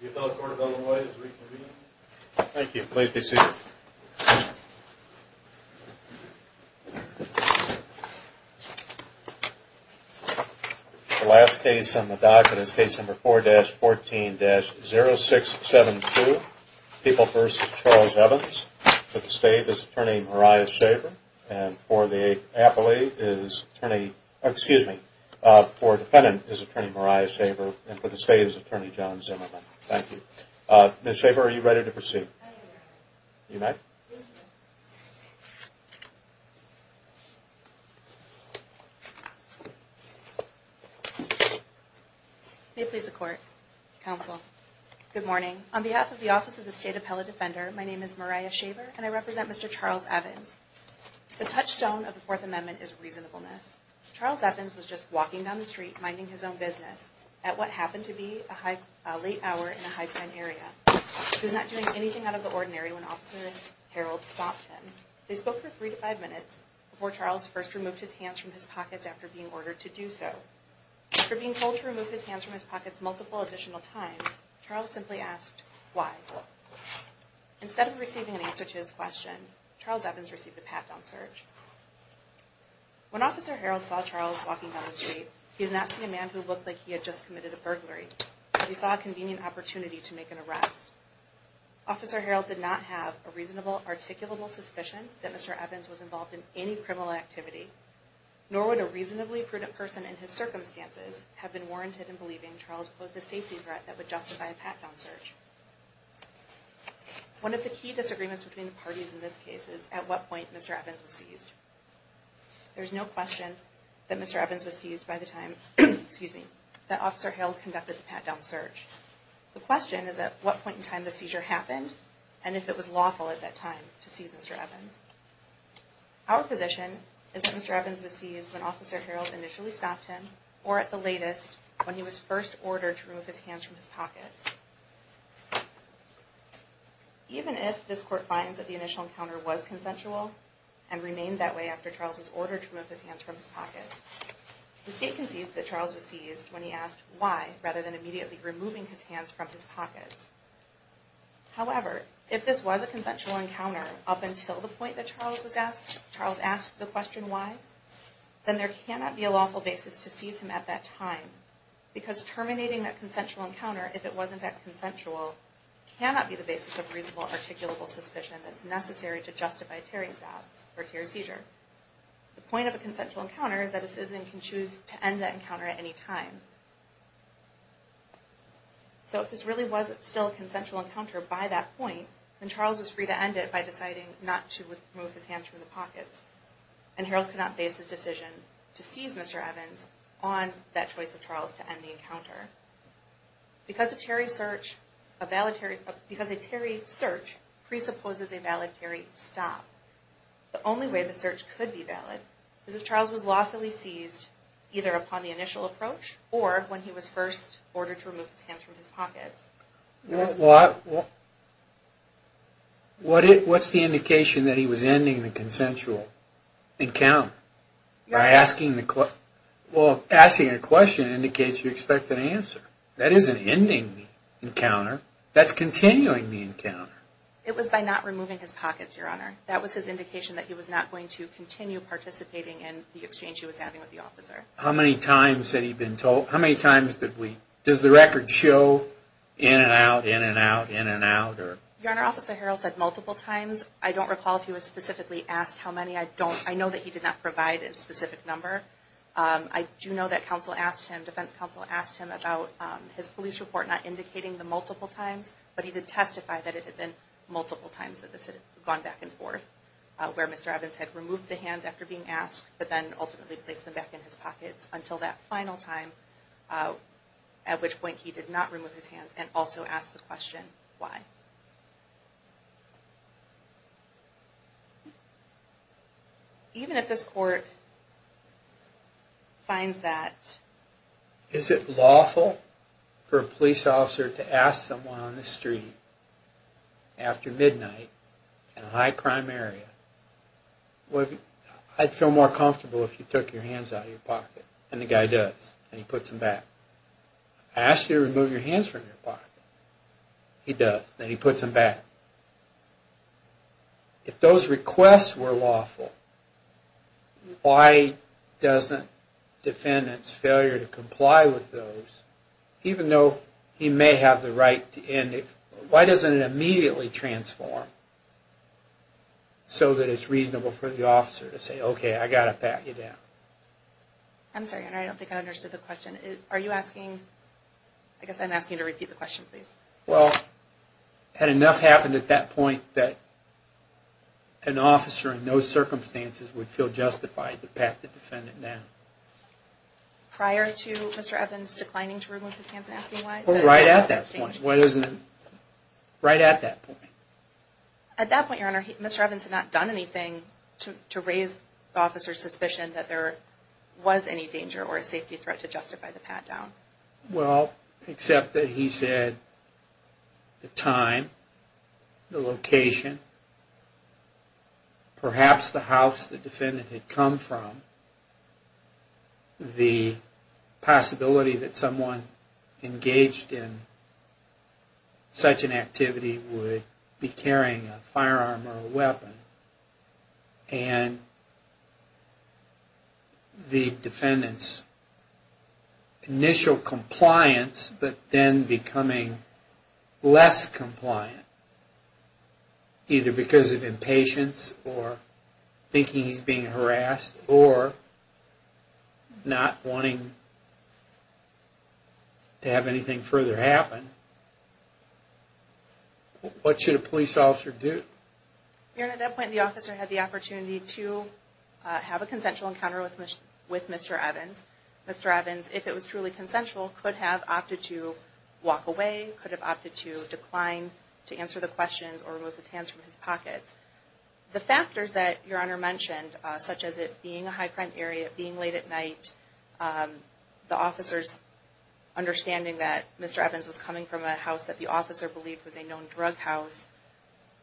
The last case on the docket is case number 4-14-0672, People v. Charles Evans. For the state's attorney, John Zimmerman. Thank you. Ms. Shaver, are you ready to proceed? I am ready. You may. May it please the Court, Counsel. Good morning. On behalf of the Office of the State Appellate Defender, my name is Mariah Shaver, and I represent Mr. Charles Evans. The touchstone of the Fourth Amendment is reasonableness. Charles Evans was just a young man who happened to be a late hour in a high-prime area. He was not doing anything out of the ordinary when Officer Harold stopped him. They spoke for 3-5 minutes before Charles first removed his hands from his pockets after being ordered to do so. After being told to remove his hands from his pockets multiple additional times, Charles simply asked, why? Instead of receiving an answer to his question, Charles Evans received a pat-down search. When Officer Harold saw Charles walking down the street, he did not see a man who looked like he had just committed a burglary. He saw a convenient opportunity to make an arrest. Officer Harold did not have a reasonable, articulable suspicion that Mr. Evans was involved in any criminal activity, nor would a reasonably prudent person in his circumstances have been warranted in believing Charles posed a safety threat that would justify a pat-down search. One of the key disagreements between the parties in this case is at what point Mr. Evans was that Officer Harold conducted the pat-down search. The question is at what point in time the seizure happened, and if it was lawful at that time to seize Mr. Evans. Our position is that Mr. Evans was seized when Officer Harold initially stopped him, or at the latest, when he was first ordered to remove his hands from his pockets. Even if this Court finds that the initial encounter was consensual, and remained that way after Charles was ordered to remove his hands from his pockets, the State concedes that Charles was seized when he asked why, rather than immediately removing his hands from his pockets. However, if this was a consensual encounter, up until the point that Charles was asked, Charles asked the question why, then there cannot be a lawful basis to seize him at that time, because terminating that consensual encounter, if it wasn't at consensual, cannot be the basis of reasonable, articulable suspicion that's necessary to justify Terry's stop, or Terry's seizure. The point of a consensual encounter is that a citizen can choose to end that encounter at any time. So if this really was still a consensual encounter by that point, then Charles was free to end it by deciding not to remove his hands from the pockets, and Harold could not base his decision to seize Mr. Evans on that choice of Charles to end the encounter. Because a Terry search presupposes a valid Terry stop, the only way the search could be valid, is if Charles was lawfully seized either upon the initial approach, or when he was first ordered to remove his hands from his pockets. Well, what's the indication that he was ending the consensual encounter, by asking a question that indicates you expect an answer? That isn't ending the encounter, that's continuing the encounter. It was by not removing his pockets, Your Honor. That was his indication that he was not going to continue participating in the exchange he was having with the officer. How many times had he been told, how many times did we, does the record show in and out, in and out, in and out? Your Honor, Officer Harold said multiple times. I don't recall if he was specifically asked how many, I don't, I know that he did not provide a specific number. I do know that counsel asked him, defense counsel asked him about his police report not indicating the multiple times, but he did testify that it had been multiple times that this had gone back and forth, where Mr. Evans had removed the hands after being asked, but then ultimately placed them back in his pockets, until that final time, at which point he did not remove his hands, and also asked the question, why? Even if this court finds that... Is it lawful for a police officer to ask someone on the street, after midnight, and a high crime area, I'd feel more comfortable if you took your hands out of your pocket, and the guy does, and he puts them back. I ask you to remove your hands from your pocket, he does, and he puts them back. If those requests were lawful, why doesn't defendants' failure to comply with those, even though he may have the right to, why doesn't it immediately transform? So that it's reasonable for the officer to say, okay, I've got to pat you down. I'm sorry, I don't think I understood the question. Are you asking, I guess I'm asking you to repeat the question, please. Well, had enough happened at that point, that an officer in those circumstances would feel justified to pat the defendant down. Prior to Mr. Evans declining to remove his hands and asking why? Right at that point, right at that point. At that point, your honor, Mr. Evans had not done anything to raise the officer's suspicion that there was any danger or a safety threat to justify the pat down. Well, except that he said the time, the location, perhaps the house the defendant had come from, the possibility that someone engaged in such an activity would be carrying a firearm or a weapon. And the defendant's initial compliance, but then becoming less compliant, either because of impatience or thinking he's being harassed or not wanting to have anything further happen. What should a police officer do? Your honor, at that point, the officer had the opportunity to have a consensual encounter with Mr. Evans. Mr. Evans, if it was truly consensual, could have opted to walk away, could have opted to decline to answer the questions or remove his hands from his pockets. The factors that your honor mentioned, such as it being a high crime area, being late at night, the officer's understanding that Mr. Evans was coming from a house that the officer believed was a known drug house.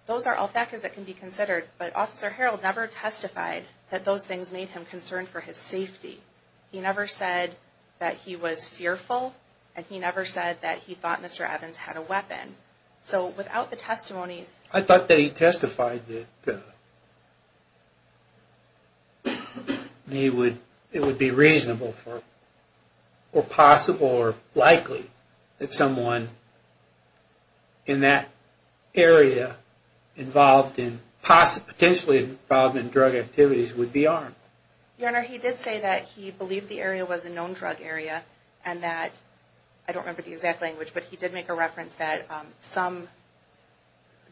Those are all factors that can be considered, but Officer Harreld never testified that those things made him concerned for his safety. He never said that he was fearful, and he never said that he thought Mr. Evans had a weapon. So, without the testimony... I thought that he testified that it would be reasonable, or possible, or likely, that someone in that area potentially involved in drug activities would be armed. Your honor, he did say that he believed the area was a known drug area, and that, I don't remember the exact language, but he did make a reference that some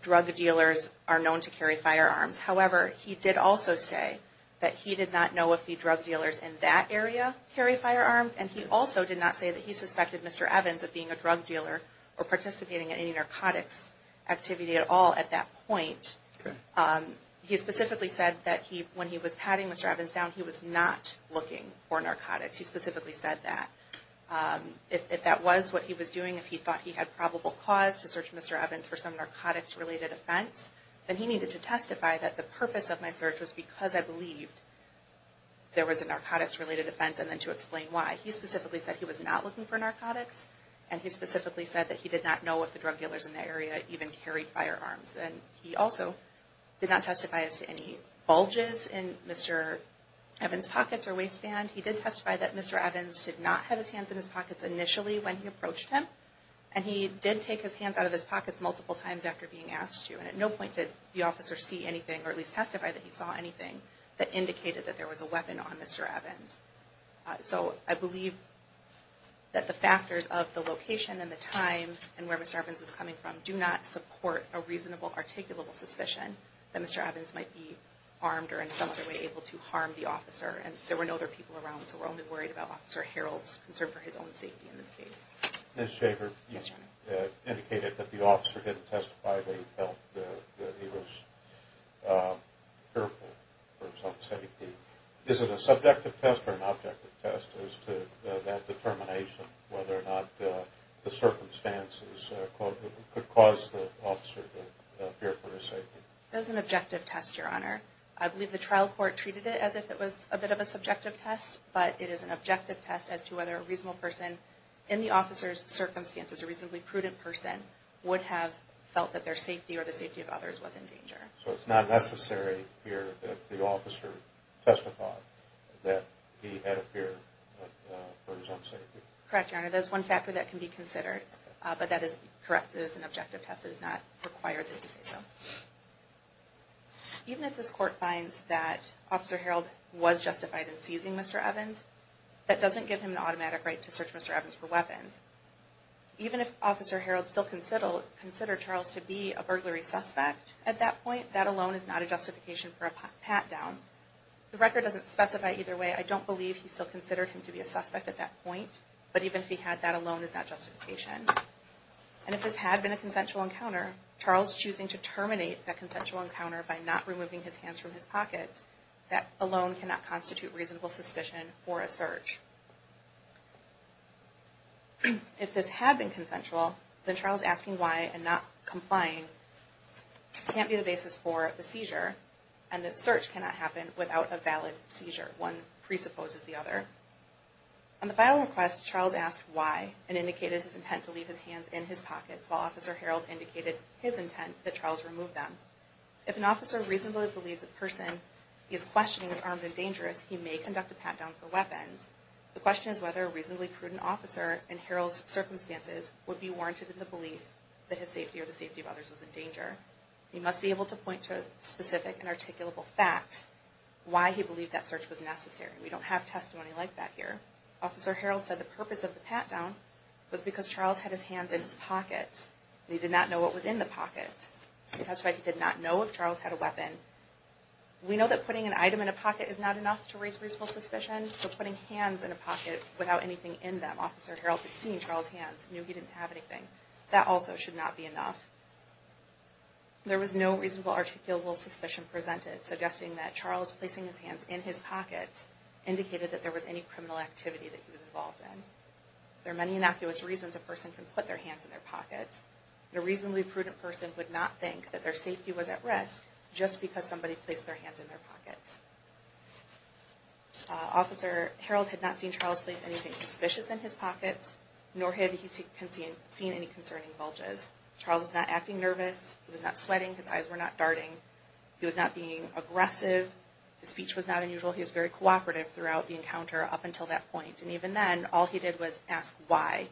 drug dealers are known to carry firearms. However, he did also say that he did not know if the drug dealers in that area carry firearms, and he also did not say that he suspected Mr. Evans of being a drug dealer or participating in any narcotics activity at all at that point. He specifically said that when he was patting Mr. Evans down, he was not looking for narcotics. He specifically said that. If that was what he was doing, if he thought he had probable cause to search Mr. Evans for some narcotics-related offense, then he needed to testify that the purpose of my search was because I believed there was a narcotics-related offense, and then to explain why. He specifically said he was not looking for narcotics, and he specifically said that he did not know if the drug dealers in that area even carried firearms. And he also did not testify as to any bulges in Mr. Evans' pockets or waistband. He did testify that Mr. Evans did not have his hands in his pockets initially when he approached him, and he did take his hands out of his pockets multiple times after being asked to. And at no point did the officer see anything, or at least testify that he saw anything, that indicated that there was a weapon on Mr. Evans. So, I believe that the factors of the location and the time and where Mr. Evans was coming from do not support a reasonable, articulable suspicion that Mr. Evans might be armed or in some other way able to harm the officer. And there were no other people around, so we're only worried about Officer Harreld's concern for his own safety in this case. Ms. Shaver, you indicated that the officer didn't testify that he felt that he was careful for his own safety. Is it a subjective test or an objective test as to that determination, whether or not the could cause the officer to fear for his safety? It is an objective test, Your Honor. I believe the trial court treated it as if it was a bit of a subjective test, but it is an objective test as to whether a reasonable person in the officer's circumstances, a reasonably prudent person, would have felt that their safety or the safety of others was in danger. So it's not necessary here that the officer testified that he had a fear for his own safety? Correct, Your Honor. There's one factor that can be considered, but that is correct. It is an objective test. It is not required that he say so. Even if this court finds that Officer Harreld was justified in seizing Mr. Evans, that doesn't give him an automatic right to search Mr. Evans for weapons. Even if Officer Harreld still considered Charles to be a burglary suspect at that point, that alone is not a justification for a pat-down. The record doesn't specify either way. I don't believe he still considered him to be a suspect at that point, but even if he had, that alone is not justification. And if this had been a consensual encounter, Charles choosing to terminate that consensual encounter by not removing his hands from his pockets, that alone cannot constitute reasonable suspicion for a search. If this had been consensual, then Charles asking why and not complying can't be the seizure, and that search cannot happen without a valid seizure. One presupposes the other. On the final request, Charles asked why and indicated his intent to leave his hands in his pockets, while Officer Harreld indicated his intent that Charles remove them. If an officer reasonably believes a person he is questioning is armed and dangerous, he may conduct a pat-down for weapons. The question is whether a reasonably prudent officer in Harreld's circumstances would be warranted in the belief that his safety or the safety of others was in danger. He must be able to point to specific and articulable facts why he believed that search was necessary. We don't have testimony like that here. Officer Harreld said the purpose of the pat-down was because Charles had his hands in his pockets. He did not know what was in the pockets. That's why he did not know if Charles had a weapon. We know that putting an item in a pocket is not enough to raise reasonable suspicion, so putting hands in a pocket without anything in them, Officer Harreld had seen Charles' hands, knew he didn't have anything. That also should not be enough. There was no reasonable articulable suspicion presented, suggesting that Charles placing his hands in his pockets indicated that there was any criminal activity that he was involved in. There are many innocuous reasons a person can put their hands in their pockets. A reasonably prudent person would not think that their safety was at risk just because somebody placed their hands in their pockets. Officer Harreld had not seen Charles place anything suspicious in his pockets, nor had he seen any concerning bulges. Charles was not acting nervous. He was not sweating. His eyes were not darting. He was not being aggressive. His speech was not unusual. He was very cooperative throughout the encounter up until that point. And even then, all he did was ask why.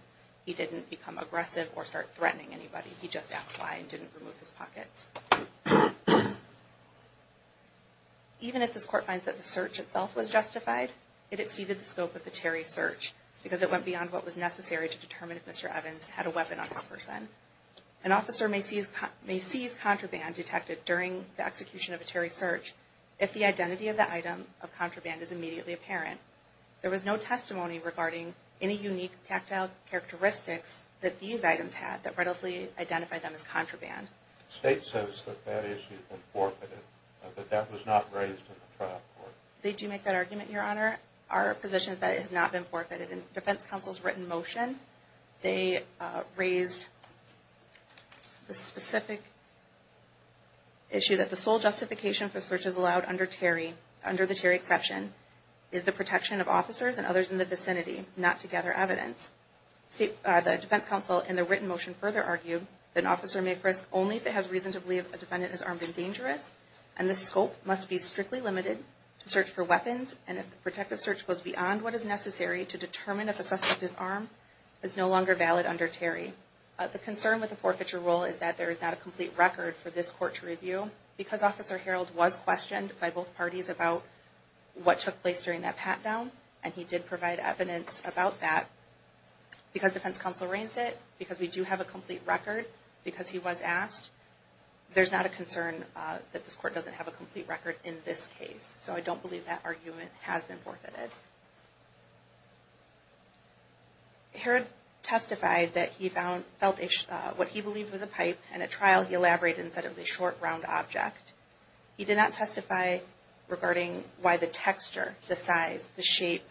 He didn't become aggressive or start threatening anybody. He just asked why and didn't remove his pockets. Even if this Court finds that the search itself was justified, it exceeded the scope of the necessary to determine if Mr. Evans had a weapon on this person. An officer may seize contraband detected during the execution of a Terry search if the identity of the item of contraband is immediately apparent. There was no testimony regarding any unique tactile characteristics that these items had that readily identified them as contraband. They do make that argument, Your Honor. Our position is that it has not been forfeited. In the Defense Counsel's written motion, they raised the specific issue that the sole justification for searches allowed under the Terry exception is the protection of officers and others in the vicinity not to gather evidence. The Defense Counsel in the written motion further argued that an officer may frisk only if it has reason to believe a defendant is armed and dangerous and the scope must be strictly limited to search for weapons and if the protective search goes beyond what is necessary to determine if a suspect is armed is no longer valid under Terry. The concern with the forfeiture rule is that there is not a complete record for this Court to review. Because Officer Harreld was questioned by both parties about what took place during that pat-down, and he did provide evidence about that, because Defense Counsel rains it, because we do have a complete record, because he was asked, there's not a concern that this Court doesn't have a complete record in this case. So I don't believe that argument has been forfeited. Harreld testified that he felt what he believed was a pipe, and at trial he elaborated and said it was a short, round object. He did not testify regarding why the texture, the size, the shape,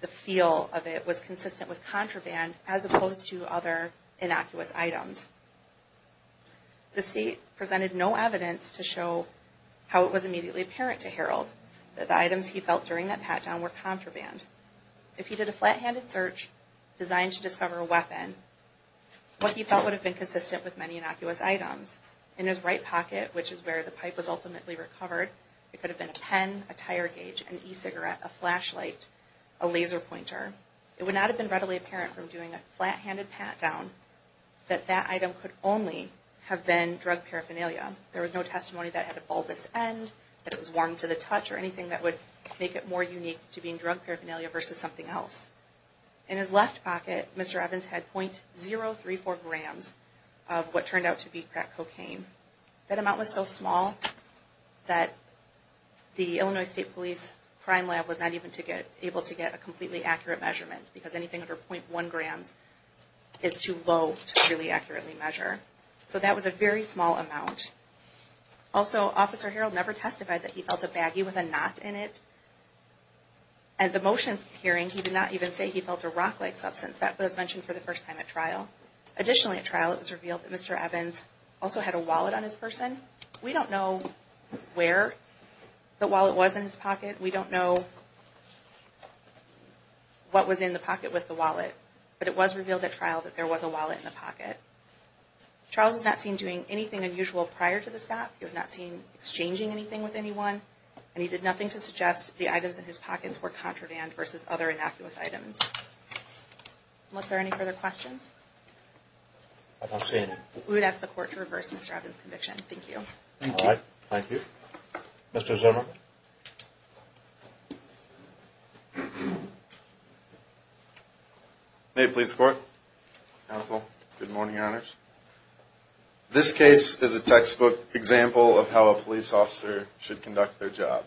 the feel of it was consistent with contraband as opposed to other innocuous items. The State presented no evidence to show how it was immediately apparent to Harreld that the items he felt during that pat-down were contraband. If he did a flat-handed search designed to discover a weapon, what he felt would have been consistent with many innocuous items. In his right pocket, which is where the pipe was ultimately recovered, it could have been a pen, a tire gauge, an e-cigarette, a flashlight, a laser pointer. It would not have been readily apparent from doing a flat-handed pat-down that that item could only have been drug paraphernalia. There was no testimony that it had a bulbous end, that it was warm to the touch, or anything that would make it more unique to being drug paraphernalia versus something else. In his left pocket, Mr. Evans had .034 grams of what turned out to be crack cocaine. That amount was so small that the Illinois State Police crime lab was not even able to get a completely accurate measurement because anything under .1 grams is too low to really accurately measure. So that was a very small amount. Also, Officer Harreld never testified that he felt a baggie with a knot in it. At the motion hearing, he did not even say he felt a rock-like substance. That was mentioned for the first time at trial. Additionally at trial, it was revealed that Mr. Evans also had a wallet on his person. We don't know where the wallet was in his pocket. We don't know what was in the pocket with the wallet. But it was revealed at trial that there was a wallet in the pocket. Charles was not seen doing anything unusual prior to this fact. He was not seen exchanging anything with anyone, and he did nothing to suggest the items in his pockets were contraband versus other innocuous items. Unless there are any further questions? We would ask the Court to reverse Mr. Evans' conviction. Thank you. Thank you. Mr. Zimmer? Good morning. This case is a textbook example of how a police officer should conduct their job.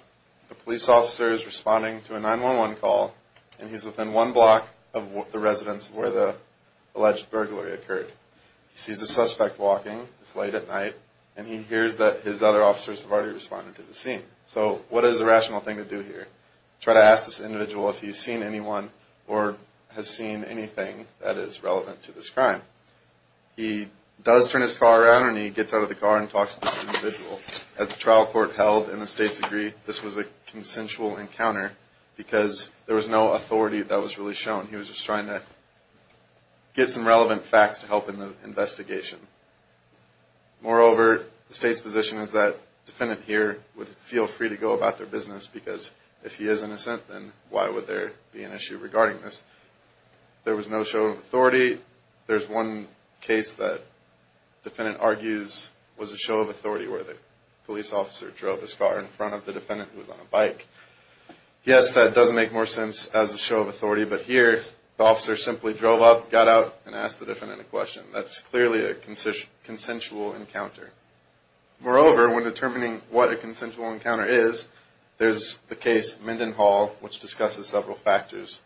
A police officer is responding to a 911 call, and he's within one block of the residence where the alleged burglary occurred. He sees a suspect walking. It's late at night. And he hears that his other officers have already responded to the scene. So what is the rational thing to do here? Try to ask this individual if he's seen anyone or has seen anything that is relevant to this crime. He does turn his car around, and he gets out of the car and talks to this individual. As the trial court held and the states agreed, this was a consensual encounter because there was no authority that was really shown. He was just trying to get some relevant facts to help in the investigation. Moreover, the state's position is that the defendant here would feel free to go about their business because if he is innocent, then why would there be an issue regarding this? There was no show of authority. There's one case that the defendant argues was a show of authority where the police officer drove his car in front of the defendant who was on a bike. Yes, that does make more sense as a show of authority, but here the officer simply drove up, got out, and asked the defendant a question. That's clearly a consensual encounter. Moreover, when determining what a consensual encounter is, there's the case Minden Hall, which discusses several factors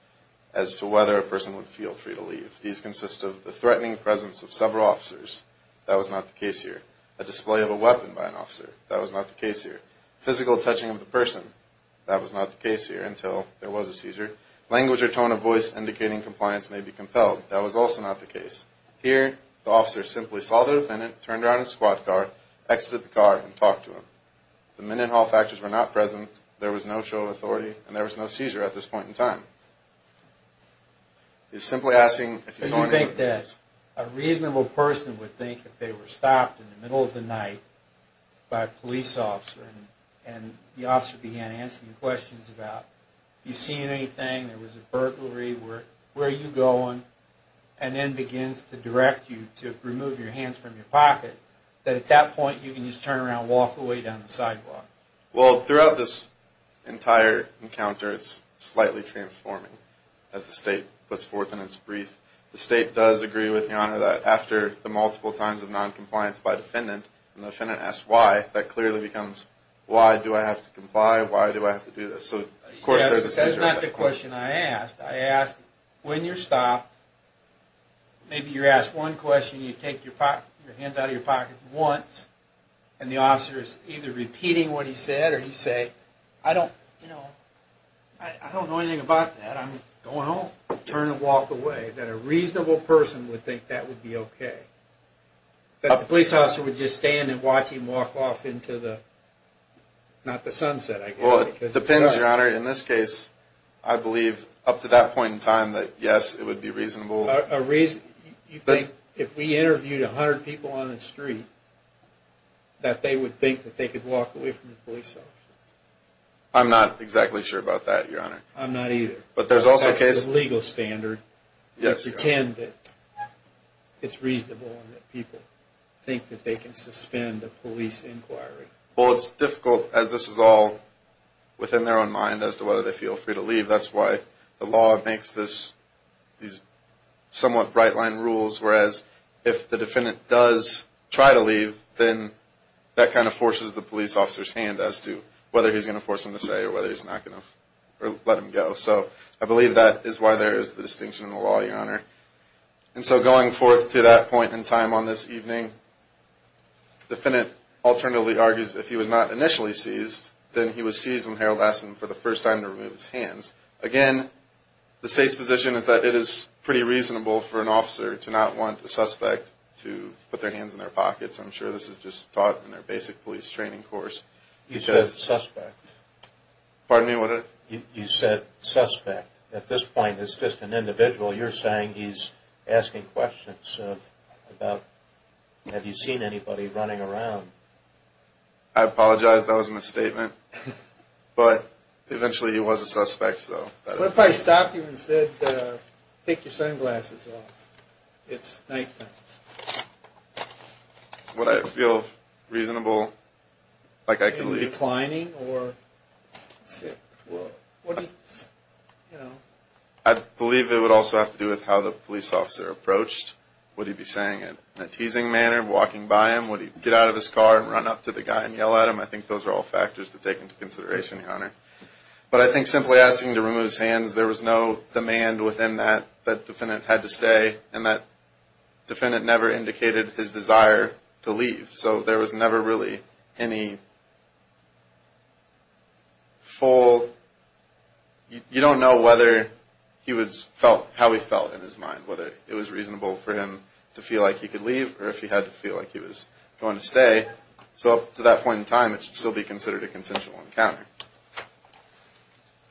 as to whether a person would feel free to leave. These consist of the threatening presence of several officers. That was not the case here. A display of a weapon by an officer. That was not the case here. Physical touching of the person. That was not the case here until there was a seizure. Language or tone of voice indicating compliance may be compelled. That was also not the case. Here, the officer simply saw the defendant, turned around in his squad car, exited the car, and talked to him. The Minden Hall factors were not present. There was no show of authority, and there was no seizure at this point in time. He's simply asking if he saw any witnesses. A reasonable person would think if they were stopped in the middle of the night by a police officer, and the officer began asking questions about, have you seen anything, there was a burglary, where are you going, and then begins to direct you to remove your hands from your pocket, that at that point you can just turn around and walk away down the sidewalk. Well, throughout this entire encounter, it's slightly transforming as the state puts forth in its brief. The state does agree with, Your Honor, that after the multiple times of noncompliance by defendant, and the defendant asks why, that clearly becomes why do I have to comply, why do I have to do this? That's not the question I asked. I asked, when you're stopped, maybe you're asked one question, you take your hands out of your pocket once, and the officer is either repeating what he said, or he says I don't, you know, I don't know anything about that, I'm going home. Turn and walk away. That a reasonable person would think that would be okay. That the police officer would just stand and watch him walk off into the, not the sunset, I guess. Well, it depends, Your Honor. In this case, I believe up to that point in time that yes, it would be reasonable. You think, if we interviewed 100 people on the street, that they would think that they could walk away from the police officer? I'm not exactly sure about that, Your Honor. I'm not either. But there's also cases. That's the legal standard. Yes, Your Honor. They pretend that it's reasonable and that people think that they can suspend a police inquiry. Well, it's difficult as this is all within their own mind as to whether they feel free to leave. That's why the law makes this, these somewhat bright line rules, whereas if the defendant does try to leave then that kind of forces the police officer's hand as to whether he's going to force him to stay, or whether he's not going to, or let him go. So, I believe that is why there is the distinction in the law, Your Honor. And so, going forth to that point in time on this evening, the defendant alternatively argues if he was not initially seized, then he was seized when Harold asked him for the first time to remove his hands. Again, the State's position is that it is pretty reasonable for an officer to not want the suspect to put their hands in their pockets. I'm sure this is just taught in their basic police training course. You said suspect. Pardon me? You said suspect. At this point, it's just an individual. You're saying he's asking questions about have you seen anybody running around? I apologize. That was a misstatement. But, eventually he was a suspect. What if I stopped you and said, take your sunglasses off. It's nighttime. Would I feel reasonable like I could leave? Reclining? I believe it would also have to do with how the police officer approached. Would he be saying it in a teasing manner, walking by him? Would he get out of his car and run up to the guy and yell at him? I think those are all factors to take into consideration, Your Honor. But, I think simply asking to remove his hands, there was no demand within that that the defendant had to stay. And that defendant never indicated his desire to leave. So, there was never really any full, you don't know whether he was felt, how he felt in his mind. Whether it was reasonable for him to feel like he could leave or if he had to feel like he was going to stay. So, up to that point in time, it should still be considered a consensual encounter.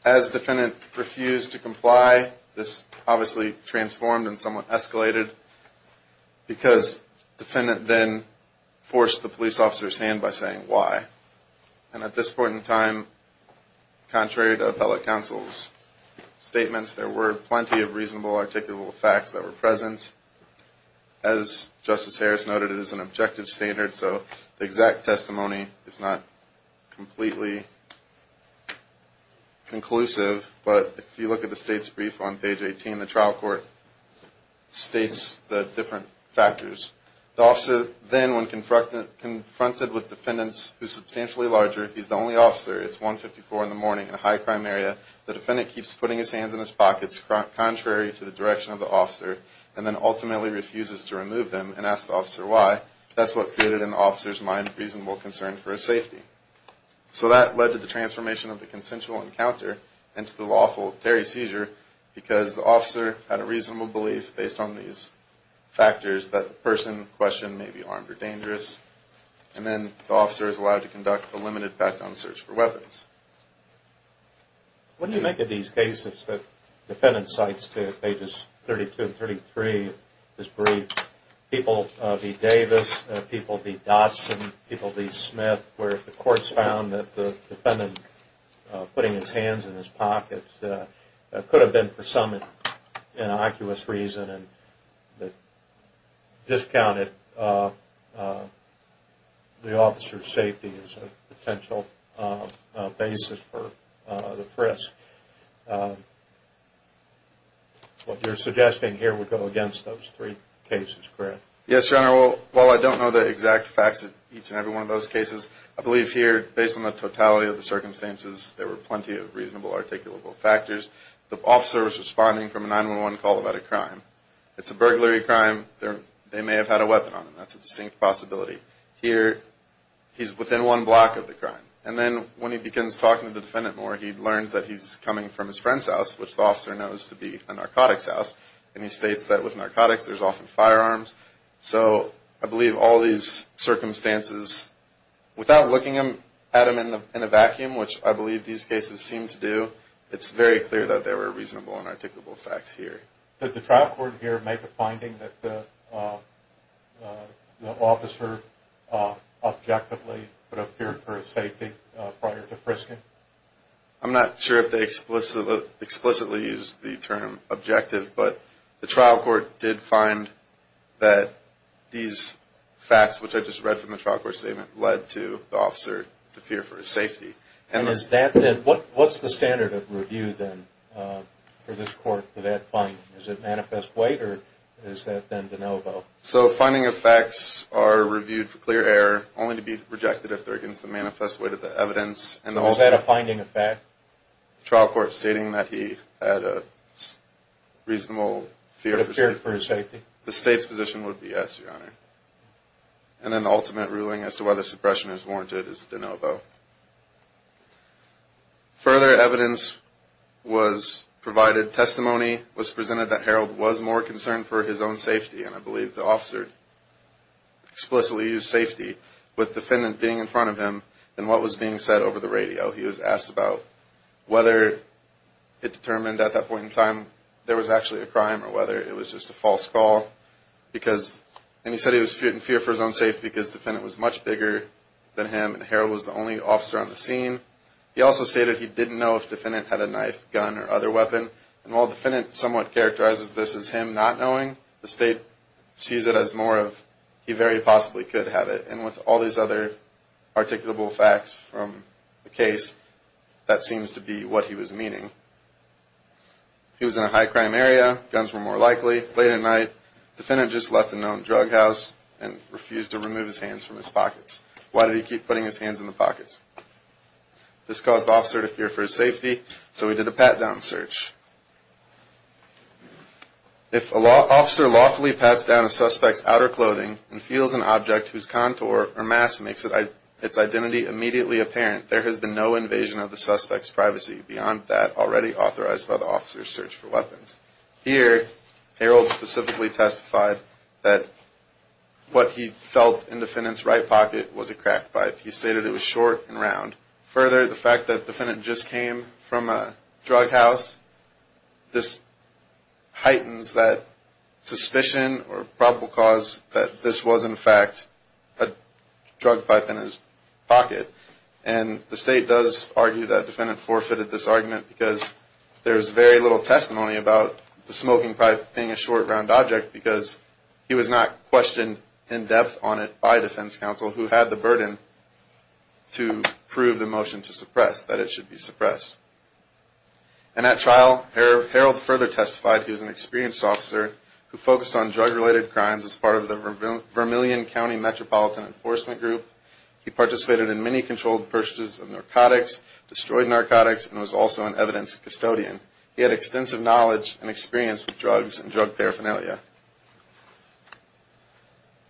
As defendant refused to comply, this obviously transformed and somewhat escalated because defendant then forced the police officer's hand by saying, why? And at this point in time, contrary to appellate counsel's statements, there were plenty of reasonable, articulable facts that were present. As Justice Harris noted, it is an objective standard so the exact testimony is not completely conclusive. But, if you look at the state's brief on page 18, the trial court states the different factors. The officer then, when confronted with defendants who's substantially larger, he's the only officer, it's 154 in the morning in a high crime area, the defendant keeps putting his hands in his pockets contrary to the direction of the officer and then ultimately refuses to remove them and asks the officer why. That's what created in the officer's mind reasonable concern for his safety. So, that led to the transformation of the consensual encounter into the lawful Terry seizure because the officer had a reasonable belief, based on these factors, that the person in question may be armed or dangerous. And then, the officer is allowed to conduct a limited background search for weapons. When you look at these cases, the defendant cites pages 32 and 33 of this brief, people v. Davis, people v. Dotson, people v. Smith, where the courts found that the defendant putting his hands in his pockets could have been for some innocuous reason discounted the officer's safety as a potential basis for the frisk. What you're suggesting here would go against those three cases, correct? Yes, Your Honor. While I don't know the exact facts of each and every one of those cases, I believe here, based on the totality of the circumstances, there were plenty of reasonable and articulable factors. The officer was responding from a 911 call about a crime. It's a burglary crime. They may have had a weapon on him. That's a distinct possibility. Here, he's within one block of the crime. And then, when he begins talking to the defendant more, he learns that he's coming from his friend's house, which the officer knows to be a narcotics house, and he states that with narcotics there's often firearms. So, I believe all these circumstances, without looking at them in a vacuum, which I believe these cases seem to do, it's very clear that there were reasonable and articulable facts here. Did the trial court here make a finding that the officer objectively would have feared for his safety prior to frisking? I'm not sure if they explicitly used the term objective, but the trial court did find that these facts, which I just read from the trial court statement, led to the officer to fear for his safety. What's the standard of review then for this court for that finding? Is it manifest weight, or is that then de novo? Finding of facts are reviewed for clear error, only to be rejected if they're against the manifest weight of the evidence. Is that a finding of fact? The trial court stating that he had a reasonable fear for his safety. The state's position would be yes, Your Honor. And then the ultimate ruling as to whether suppression is warranted is de novo. Further evidence was provided. Testimony was presented that Harold was more concerned for his own safety, and I believe the officer explicitly used safety, with defendant being in front of him, than what was being said over the radio. He was asked about whether it determined at that point in time there was actually a crime, or whether it was just a false call. And he said he was in fear for his own safety because the defendant was much bigger than him, and Harold was the only officer on the scene. He also stated he didn't know if the defendant had a knife, gun, or other weapon. And while the defendant somewhat characterizes this as him not knowing, the state sees it as more of he very possibly could have it. And with all these other articulable facts from the case, that seems to be what he was meaning. He was in a high-crime area. Guns were more likely. Late at night, the defendant just left the known drug house and refused to remove his hands from his pockets. Why did he keep putting his hands in the pockets? This caused the officer to fear for his safety, so he did a pat-down search. If an officer lawfully pats down a suspect's outer clothing and feels an object whose contour or mass makes its identity immediately apparent, there has been no invasion of the suspect's privacy beyond that already authorized by the officer's search for weapons. Here, Harold specifically testified that what he felt in the defendant's right pocket was a crack pipe. He stated it was short and round. Further, the fact that the defendant just came from a drug house, this heightens that suspicion or probable cause that this was, in fact, a drug pipe in his pocket. And the state does argue that the defendant forfeited this argument because there is very little testimony about the smoking pipe being a short, round object because he was not questioned in depth on it by defense counsel, who had the burden to prove the motion to suppress, that it should be suppressed. And at trial, Harold further testified he was an experienced officer who focused on drug-related crimes as part of the Vermillion County Metropolitan Enforcement Group. He participated in many controlled purchases of narcotics, destroyed narcotics, and was also an evidence custodian. He had extensive knowledge and experience with drugs and drug paraphernalia.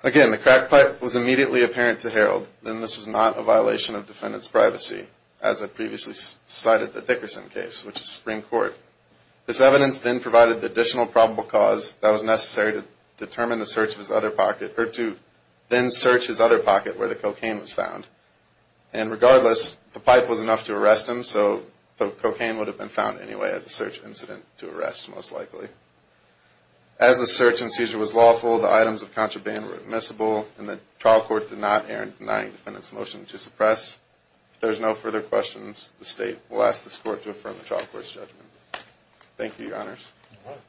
Again, the crack pipe was immediately apparent to Harold, and this was not a violation of defendant's privacy, as I previously cited the Dickerson case, which is Supreme Court. This evidence then provided the additional probable cause that was necessary to determine the search of his other pocket, or to then search his other pocket where the regardless, the pipe was enough to arrest him, so the cocaine would have been found anyway as a search incident to arrest, most likely. As the search and seizure was lawful, the items of contraband were admissible, and the trial court did not err in denying defendant's motion to suppress. If there is no further questions, the state will ask this court to affirm the trial court's judgment. Thank you, Your Honors.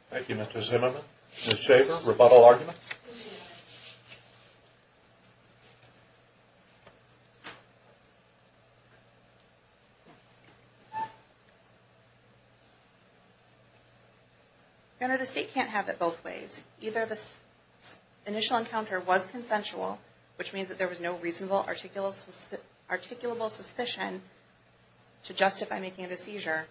Thank you, Mr. Zimmerman. Ms. Shaver, rebuttal argument? Your Honor, the state can't have it both ways. Either the initial encounter was consensual, which means that there was no reasonable articulable suspicion to justify making a seizure,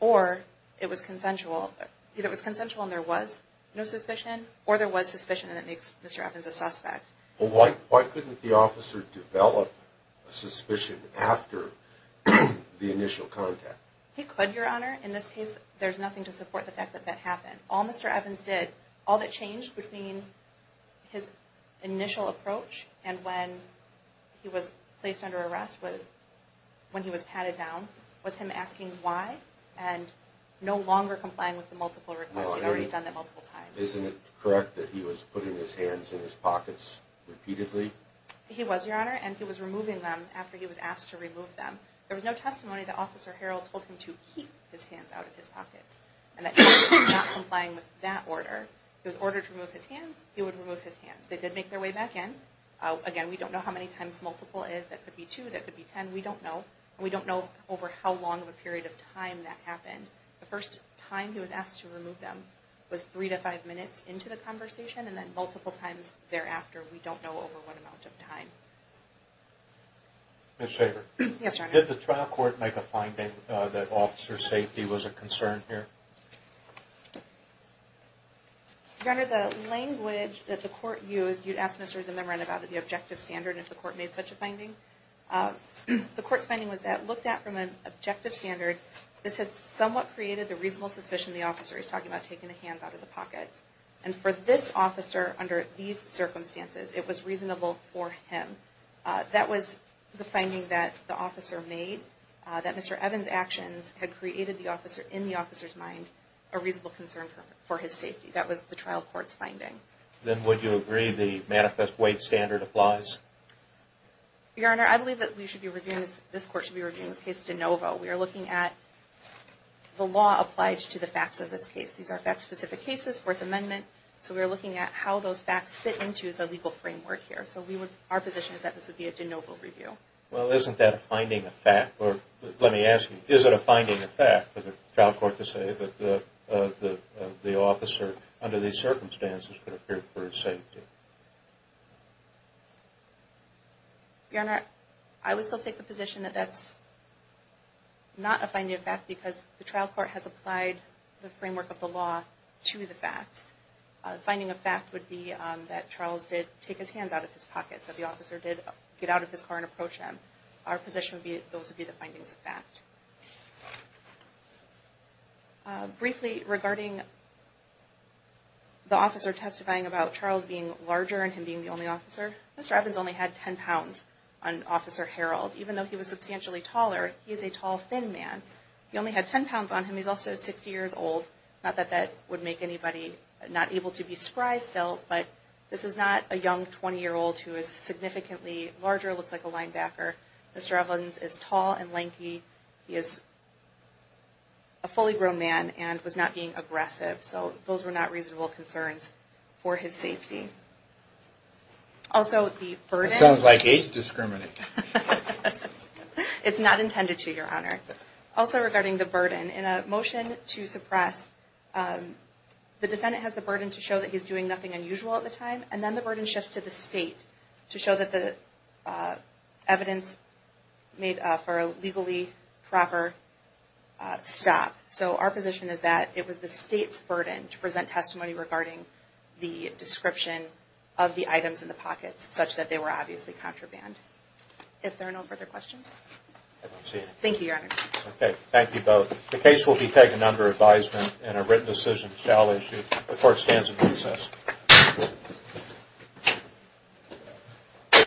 or it was consensual. Either it was consensual and there was no suspicion, or there was suspicion and it makes Mr. Evans a suspect. Well, why couldn't the officer develop a suspicion after the initial contact? He could, Your Honor. In this case, there's nothing to support the fact that that happened. All Mr. Evans did, all that changed between his initial approach, and when he was placed under arrest when he was patted down, was him asking why and no longer complying with the multiple requests. He'd already done that multiple times. Isn't it correct that he was putting his hands in his pockets repeatedly? He was, Your Honor, and he was removing them after he was asked to remove them. There was no testimony that Officer Harrell told him to keep his hands out of his pockets and that he was not complying with that order. If it was ordered to remove his hands, he would remove his hands. They did make their way back in. Again, we don't know how many times multiple is. That could be two, that could be ten, we don't know. We don't know over how long of a period of time that happened. The first time he was asked to remove them was three to five minutes into the conversation, and then multiple times thereafter, we don't know over what amount of time. Did the trial court make a finding that officer safety was a concern here? Your Honor, the language that the court used, you'd ask Mr. Zimmerman about the objective standard if the court made such a finding. The court's finding was that looked at from an objective standard, this had somewhat created the reasonable suspicion the officer is talking about taking the hands out of the pockets. And for this officer, under these circumstances, it was reasonable for him. That was the finding that the officer made, that Mr. Evans' actions had created the officer, in the officer's mind, a reasonable concern for his safety. That was the trial court's finding. Then would you agree the manifest weight standard applies? Your Honor, I believe that we should be reviewing, this court should be reviewing this case de novo. We are looking at the law applied to the facts of this case, Fourth Amendment, so we are looking at how those facts fit into the legal framework here. So our position is that this would be a de novo review. Well, isn't that a finding of fact, or let me ask you, is it a finding of fact for the trial court to say that the officer, under these circumstances, could have feared for his safety? Your Honor, I would still take the position that that's not a finding of fact because the trial court has applied the framework of the law to the facts. The finding of fact would be that Charles did take his hands out of his pocket, that the officer did get out of his car and approach him. Our position would be that those would be the findings of fact. Briefly, regarding the officer testifying about Charles being larger and him being the only officer, Mr. Evans only had 10 pounds on Officer Harold. Even though he was substantially taller, he is a tall, thin man. He only had 10 pounds on him. He's also 60 years old. Not that that would make anybody not able to be surprised still, but this is not a young 20-year-old who is significantly larger, looks like a linebacker. Mr. Evans is tall and lanky. He is a fully grown man and was not being aggressive. So those were not reasonable concerns for his safety. Also the burden... That sounds like age discrimination. It's not intended to, Your Honor. Also regarding the burden, in a motion to suppress the defendant has the burden to show that he's doing nothing unusual at the time and then the burden shifts to the state to show that the evidence made for a legally proper stop. So our position is that it was the state's burden to present testimony regarding the description of the items in the pockets such that they were obviously contraband. If there are no further questions? I don't see any. Thank you, Your Honor. Okay. Thank you both. The case will be taken under advisement and a written decision shall issue. The court stands in recess.